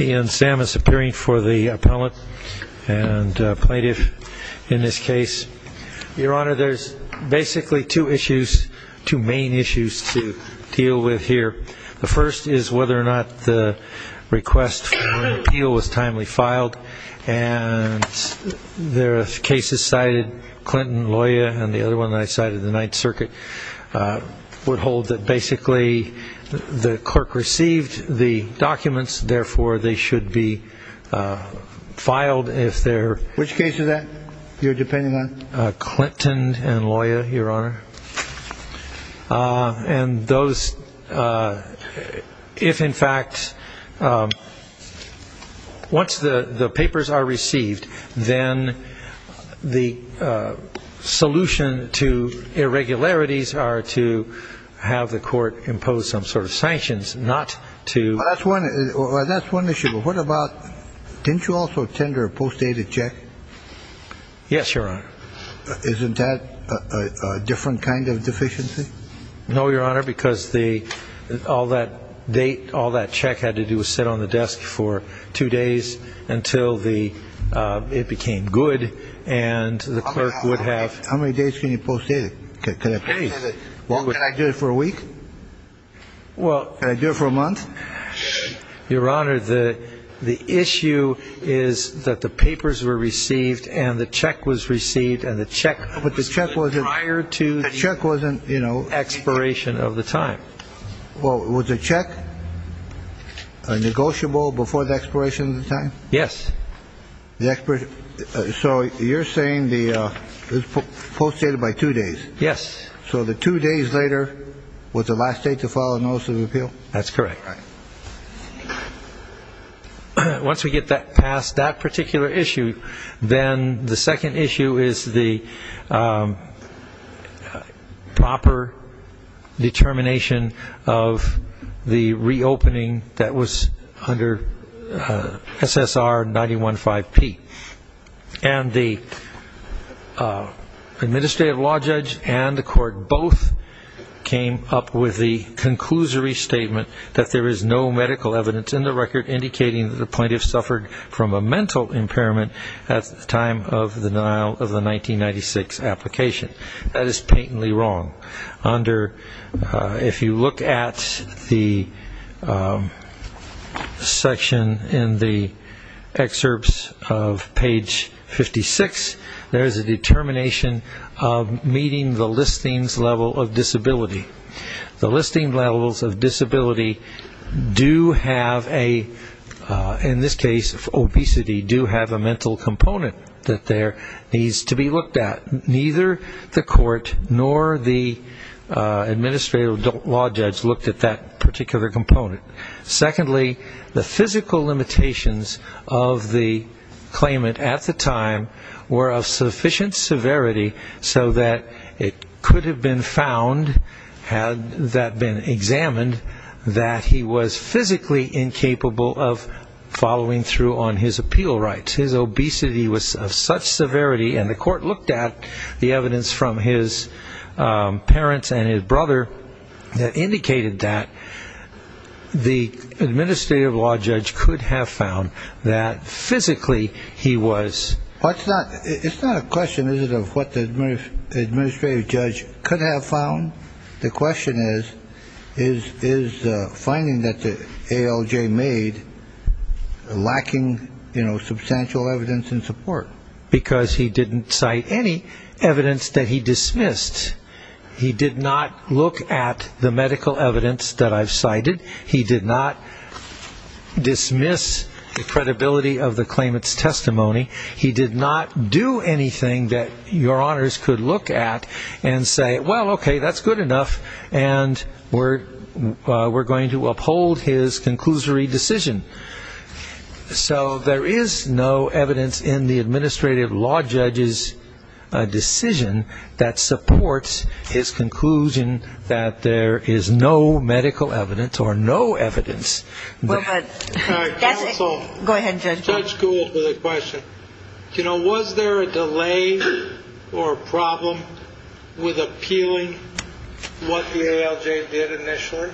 Ian Samus appearing for the appellant and plaintiff in this case. Your Honor, there's basically two issues, two main issues to deal with here. The first is whether or not the request for an appeal was timely filed, and there are cases cited, Clinton, Loya, and the other one I cited, the Ninth Circuit, would hold that basically the clerk received the documents, therefore they should be filed if they're... Which case is that you're depending on? Clinton and Loya, Your Honor. And those, if in fact, once the papers are received, then the solution to irregularities are to have the court impose some sort of sanctions, not to... That's one issue, but what about, didn't you also tender a post-dated check? Yes, Your Honor. Isn't that a different kind of deficiency? No, Your Honor, because all that check had to do was sit on the desk for two days until it became good, and the clerk would have... How many days can you post-date it? Can I do it for a week? Well... Can I do it for a month? Your Honor, the issue is that the papers were received and the check was received, and the check was received prior to the expiration of the time. Well, was the check negotiable before the expiration of the time? Yes. So you're saying it was post-dated by two days? Yes. So the two days later was the last day to file a notice of appeal? That's correct. Once we get past that particular issue, then the second issue is the proper determination of the reopening that was under SSR 915P. And the administrative law judge and the court both came up with the conclusory statement that there is no medical evidence in the record indicating that the plaintiff suffered from a mental impairment at the time of the denial of the 1996 application. That is patently wrong. If you look at the section in the excerpts of page 56, there is a determination of meeting the listings level of disability. The listing levels of disability do have a, in this case obesity, do have a mental component that there needs to be looked at. Neither the court nor the administrative law judge looked at that particular component. Secondly, the physical limitations of the claimant at the time were of sufficient severity so that it could have been found, had that been examined, that he was physically incapable of following through on his appeal rights. His obesity was of such severity, and the court looked at the evidence from his parents and his brother that indicated that the administrative law judge could have found that physically he was. It's not a question, is it, of what the administrative judge could have found. The question is, is finding that the ALJ made lacking, you know, substantial evidence and support. Because he didn't cite any evidence that he dismissed. He did not look at the medical evidence that I've cited. He did not dismiss the credibility of the claimant's testimony. He did not do anything that your honors could look at and say, well, okay, that's good enough, and we're going to uphold his conclusory decision. So there is no evidence in the administrative law judge's decision that supports his conclusion that there is no medical evidence or no evidence. All right, counsel. Go ahead, Judge. Judge Gould with a question. You know, was there a delay or a problem with appealing what the ALJ did initially?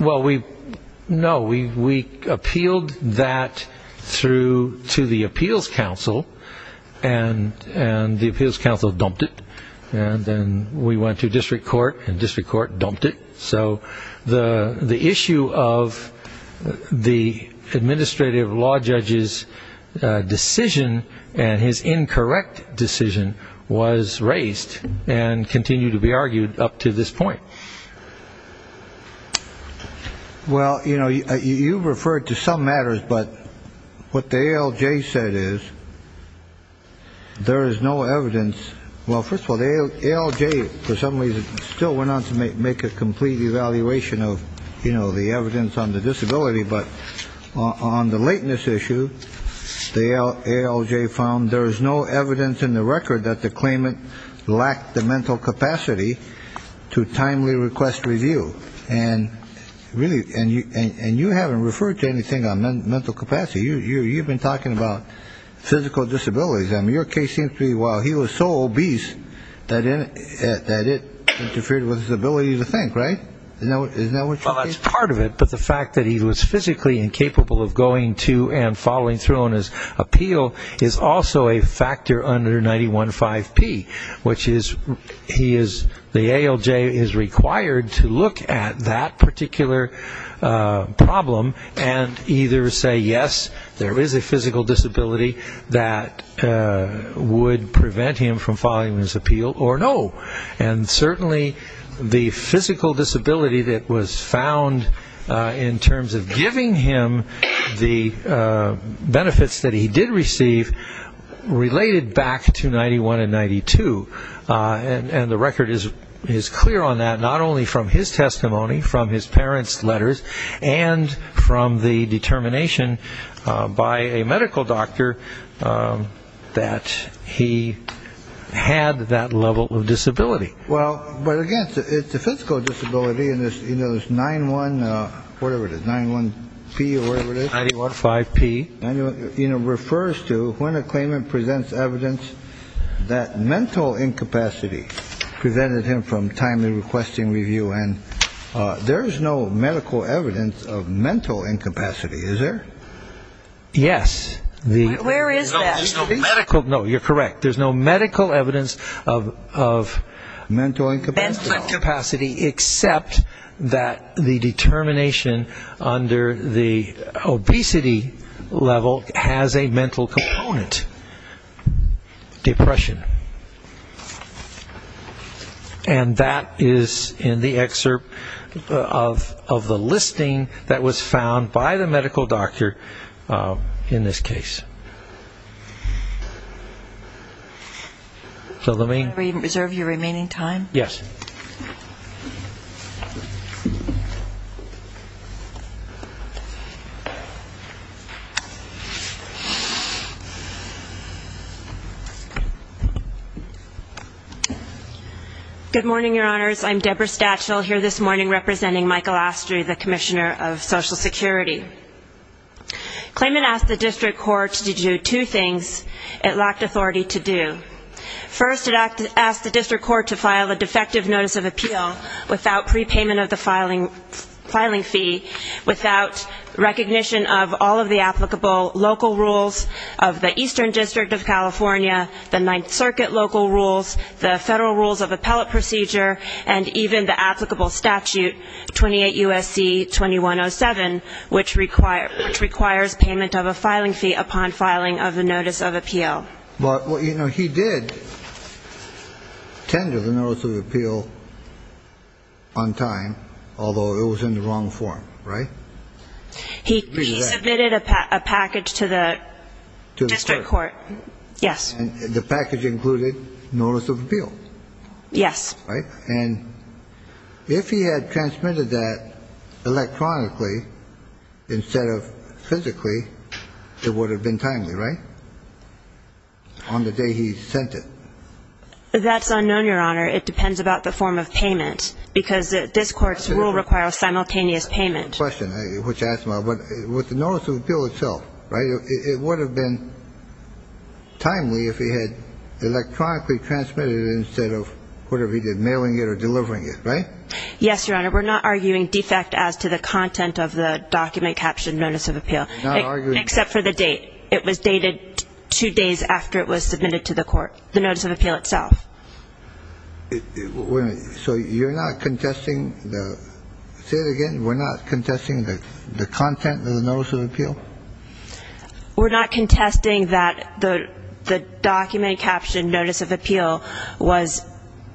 Well, no. We appealed that through to the appeals council, and the appeals council dumped it. And then we went to district court, and district court dumped it. So the issue of the administrative law judge's decision and his incorrect decision was raised and continued to be argued up to this point. Well, you know, you referred to some matters, but what the ALJ said is there is no evidence. Well, first of all, the ALJ for some reason still went on to make a complete evaluation of, you know, the evidence on the disability. But on the lateness issue, the ALJ found there is no evidence in the record that the claimant lacked the mental capacity to timely request review. And you haven't referred to anything on mental capacity. You've been talking about physical disabilities. I mean, your case seems to be, well, he was so obese that it interfered with his ability to think, right? Isn't that what you're saying? Well, that's part of it, but the fact that he was physically incapable of going to and following through on his appeal is also a factor under 915P, which is the ALJ is required to look at that particular problem and either say, yes, there is a physical disability that would prevent him from following his appeal, or no. And certainly the physical disability that was found in terms of giving him the benefits that he did receive related back to 91 and 92, and the record is clear on that, not only from his testimony, from his parents' letters, and from the determination by a medical doctor that he had that level of disability. Well, but again, it's a physical disability, and there's 91, whatever it is, 91P or whatever it is. 915P. You know, refers to when a claimant presents evidence that mental incapacity presented him from timely requesting review, and there is no medical evidence of mental incapacity, is there? Yes. Where is that? No, you're correct. There's no medical evidence of mental incapacity, except that the determination under the obesity level has a mental component, depression. And that is in the excerpt of the listing that was found by the medical doctor in this case. Can I reserve your remaining time? Yes. Thank you. Good morning, Your Honors. I'm Deborah Stachel, here this morning representing Michael Astry, the Commissioner of Social Security. Claimant asked the district court to do two things it lacked authority to do. First, it asked the district court to file a defective notice of appeal without prepayment of the filing fee, without recognition of all of the applicable local rules of the Eastern District of California, the Ninth Circuit local rules, the federal rules of appellate procedure, and even the applicable statute, 28 U.S.C. 2107, which requires payment of a filing fee upon filing of the notice of appeal. But, you know, he did tender the notice of appeal on time, although it was in the wrong form, right? He submitted a package to the district court. Yes. And the package included notice of appeal. Yes. And if he had transmitted that electronically instead of physically, it would have been timely, right? On the day he sent it. That's unknown, Your Honor. It depends about the form of payment, because this court's rule requires simultaneous payment. That's a good question, which asks about the notice of appeal itself, right? It would have been timely if he had electronically transmitted it instead of whatever he did, mailing it or delivering it, right? Yes, Your Honor. We're not arguing defect as to the content of the document captioned notice of appeal. Not arguing. Except for the date. It was dated two days after it was submitted to the court, the notice of appeal itself. So you're not contesting the – say it again. We're not contesting the content of the notice of appeal? We're not contesting that the document captioned notice of appeal was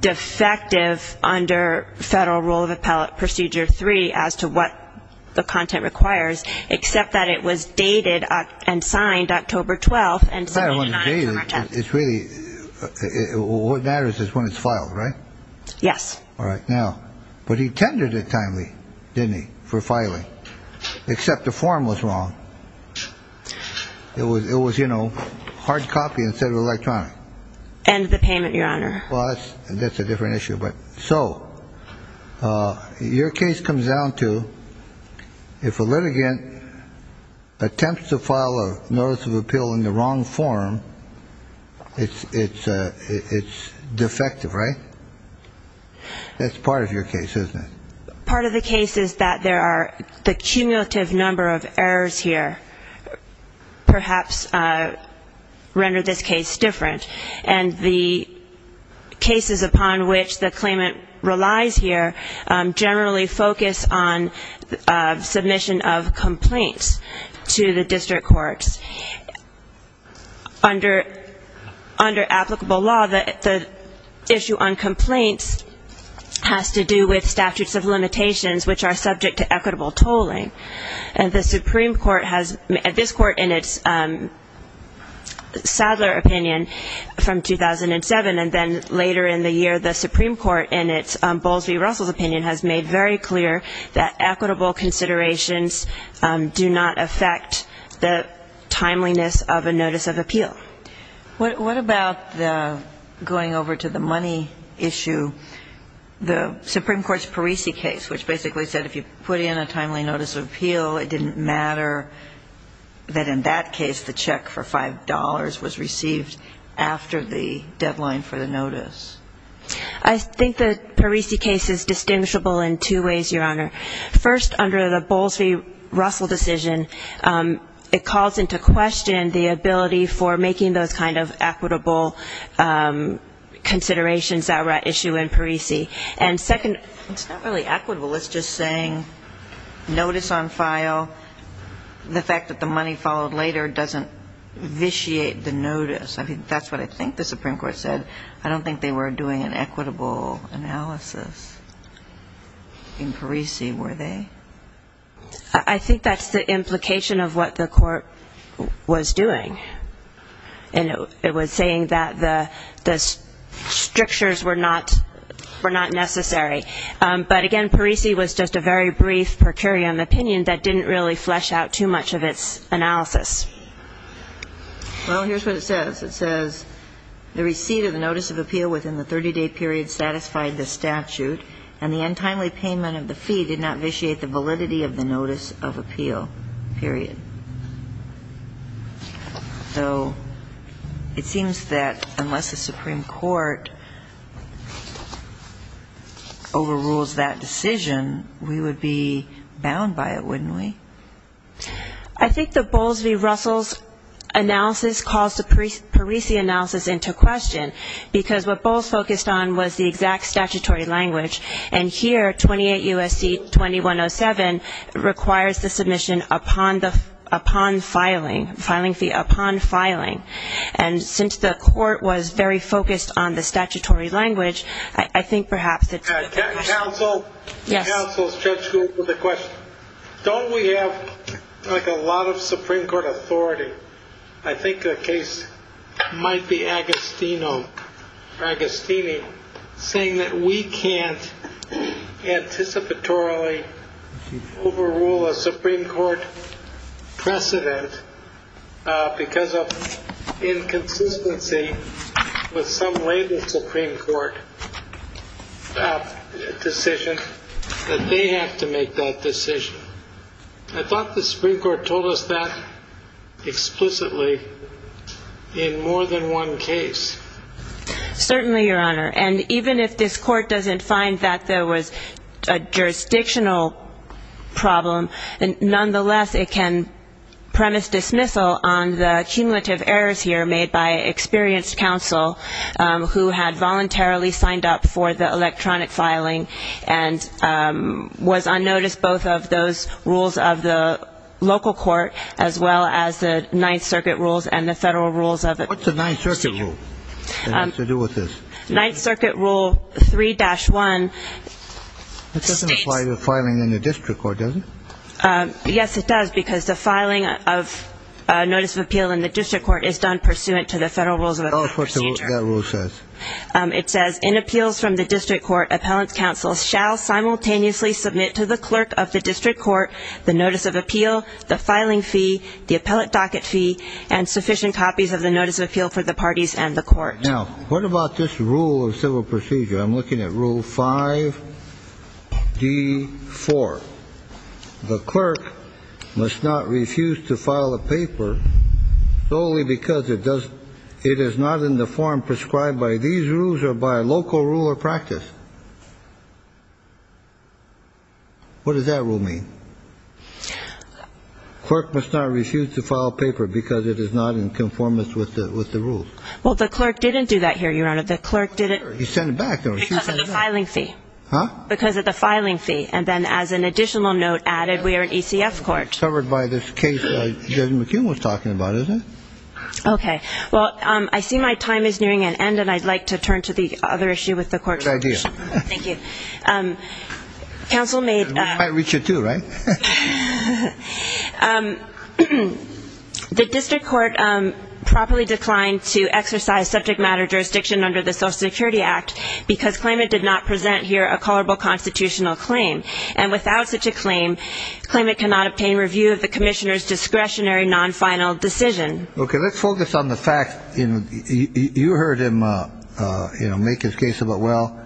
defective under Federal Rule of Appellate Procedure 3 as to what the content requires, except that it was dated and signed October 12th and submitted on October 10th. It's really – what matters is when it's filed, right? Yes. All right. Now, but he tendered it timely, didn't he, for filing, except the form was wrong. It was, you know, hard copy instead of electronic. And the payment, Your Honor. Well, that's a different issue. But so your case comes down to if a litigant attempts to file a notice of appeal in the wrong form, it's defective, right? That's part of your case, isn't it? Part of the case is that there are the cumulative number of errors here perhaps render this case different. And the cases upon which the claimant relies here generally focus on submission of complaints to the district courts. Under applicable law, the issue on complaints has to do with statutes of limitations, which are subject to equitable tolling. And the Supreme Court has – this Court in its Sadler opinion from 2007, and then later in the year the Supreme Court in its Bowles v. Russell's opinion has made very clear that equitable considerations do not affect the timeliness of a notice of appeal. What about the – going over to the money issue, the Supreme Court's Parisi case, which basically said if you put in a timely notice of appeal, it didn't matter that in that case the check for $5 was received after the deadline for the notice. I think the Parisi case is distinguishable in two ways, Your Honor. First, under the Bowles v. Russell decision, it calls into question the ability for making those kind of equitable considerations that were at issue in Parisi. And second, it's not really equitable. It's just saying notice on file, the fact that the money followed later doesn't vitiate the notice. I mean, that's what I think the Supreme Court said. I don't think they were doing an equitable analysis in Parisi, were they? I think that's the implication of what the Court was doing. And it was saying that the strictures were not necessary. But, again, Parisi was just a very brief per curiam opinion that didn't really flesh out too much of its analysis. Well, here's what it says. It says, So it seems that unless the Supreme Court overrules that decision, we would be bound by it, wouldn't we? I think the Bowles v. Russell's analysis calls to Parisi analysis because what Bowles focused on was the exact statutory language. And here, 28 U.S.C. 2107 requires the submission upon filing. And since the Court was very focused on the statutory language, I think perhaps it's a good question. Counsel, Judge Gould, with a question. Don't we have like a lot of Supreme Court authority? I think the case might be Agostino or Agostini saying that we can't anticipatorily overrule a Supreme Court precedent because of inconsistency with some label Supreme Court decision that they have to make that decision. I thought the Supreme Court told us that explicitly in more than one case. Certainly, Your Honor. And even if this Court doesn't find that there was a jurisdictional problem, nonetheless, it can premise dismissal on the cumulative errors here made by experienced counsel who had voluntarily signed up for the electronic filing and was on notice both of those rules of the local court as well as the Ninth Circuit rules and the federal rules of it. What's the Ninth Circuit rule that has to do with this? Ninth Circuit rule 3-1 states... That doesn't apply to filing in the district court, does it? Yes, it does because the filing of notice of appeal in the district court is done pursuant to the federal rules of the court. Tell us what that rule says. It says, in appeals from the district court, appellant counsel shall simultaneously submit to the clerk of the district court the notice of appeal, the filing fee, the appellate docket fee, and sufficient copies of the notice of appeal for the parties and the court. Now, what about this rule of civil procedure? I'm looking at Rule 5-D-4. The clerk must not refuse to file a paper solely because it is not in the form prescribed by these rules or by local rule or practice. What does that rule mean? Clerk must not refuse to file a paper because it is not in conformance with the rules. Well, the clerk didn't do that here, Your Honor. The clerk didn't. He sent it back. Because of the filing fee. Huh? Because of the filing fee. And then, as an additional note added, we are an ECF court. It's covered by this case Judge McKeon was talking about, isn't it? Okay. Well, I see my time is nearing an end, and I'd like to turn to the other issue with the court's resolution. Good idea. Thank you. Counsel may... We might reach it too, right? The district court properly declined to exercise subject matter jurisdiction under the Social Security Act because claimant did not present here a colorable constitutional claim. And without such a claim, claimant cannot obtain review of the commissioner's discretionary non-final decision. Okay. Let's focus on the fact, you know, you heard him, you know, make his case about, well,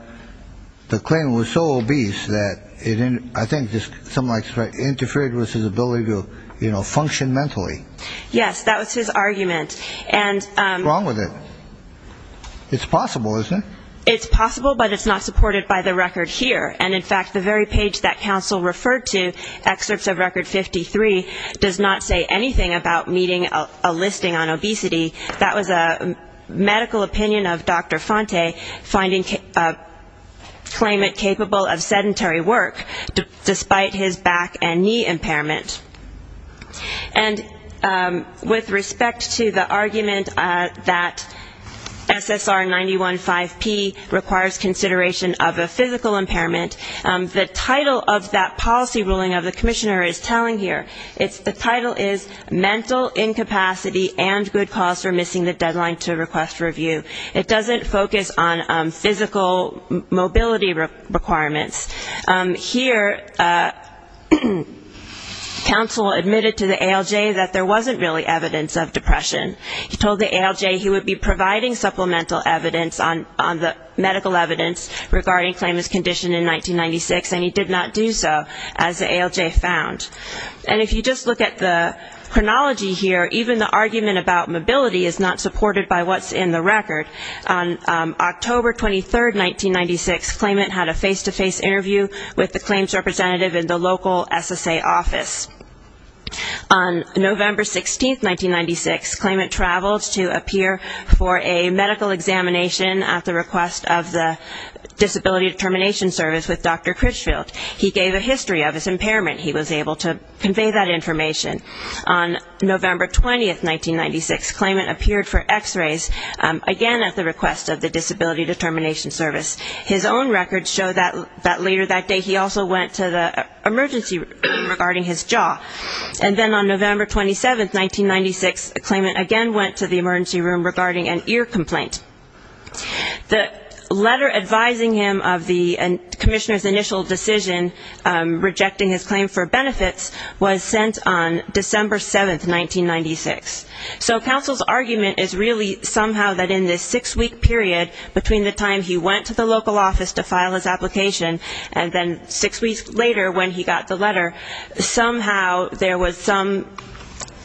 the claimant was so obese that it, I think, something like interfered with his ability to, you know, function mentally. Yes. That was his argument. And... What's wrong with it? It's possible, isn't it? It's possible, but it's not supported by the record here. And, in fact, the very page that counsel referred to, excerpts of record 53, does not say anything about meeting a listing on obesity. That was a medical opinion of Dr. Fonte, finding claimant capable of sedentary work despite his back and knee impairment. And with respect to the argument that SSR 915P requires consideration of a physical impairment, the title of that policy ruling of the commissioner is telling here. The title is Mental Incapacity and Good Cause for Missing the Deadline to Request Review. It doesn't focus on physical mobility requirements. Here, counsel admitted to the ALJ that there wasn't really evidence of depression. He told the ALJ he would be providing supplemental evidence on the medical evidence regarding claimant's condition in 1996, and he did not do so, as the ALJ found. And if you just look at the chronology here, even the argument about mobility is not supported by what's in the record. On October 23, 1996, claimant had a face-to-face interview with the claims representative in the local SSA office. On November 16, 1996, claimant traveled to appear for a medical examination at the request of the Disability Determination Service with Dr. Critchfield. He gave a history of his impairment. He was able to convey that information. On November 20, 1996, claimant appeared for x-rays, again at the request of the Disability Determination Service. His own records show that later that day he also went to the emergency room regarding his jaw. And then on November 27, 1996, claimant again went to the emergency room regarding an ear complaint. The letter advising him of the commissioner's initial decision rejecting his claim for benefits was sent on December 7, 1996. So counsel's argument is really somehow that in this six-week period between the time he went to the local office to file his application and then six weeks later when he got the letter, somehow there was some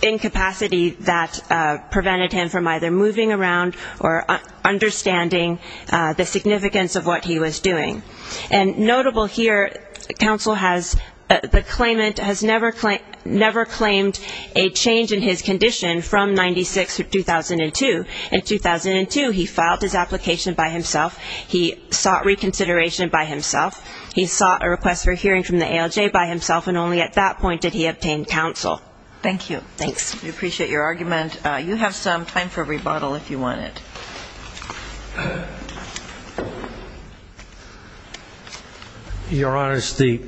incapacity that prevented him from either moving around or understanding the significance of what he was doing. And notable here, counsel has the claimant has never claimed a change in his condition from 96 to 2002. In 2002, he filed his application by himself. He sought reconsideration by himself. He sought a request for hearing from the ALJ by himself, and only at that point did he obtain counsel. Thank you. Thanks. We appreciate your argument. You have some time for a rebuttal if you want it. Your Honors, the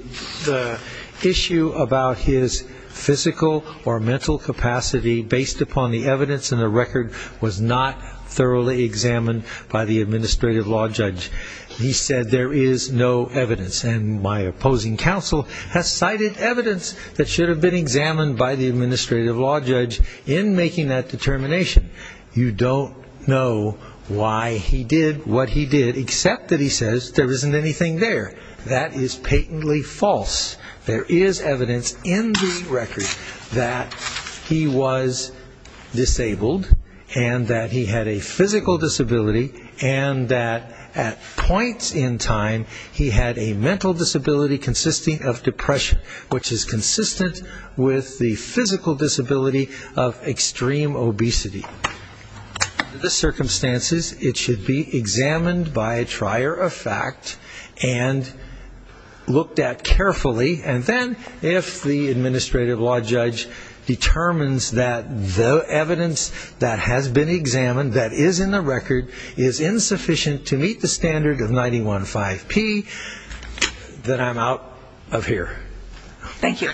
issue about his physical or mental capacity based upon the evidence in the record was not thoroughly examined by the administrative law judge. He said there is no evidence, and my opposing counsel has cited evidence that should have been examined by the administrative law judge in making that determination. You don't know why he did what he did, except that he says there isn't anything there. That is patently false. There is evidence in the record that he was disabled and that he had a physical disability and that at points in time he had a mental disability consisting of depression, which is consistent with the physical disability of extreme obesity. Under the circumstances, it should be examined by a trier of fact and looked at carefully, and then if the administrative law judge determines that the evidence that has been examined, that is in the record, is insufficient to meet the standard of 91.5P, then I'm out of here. Thank you.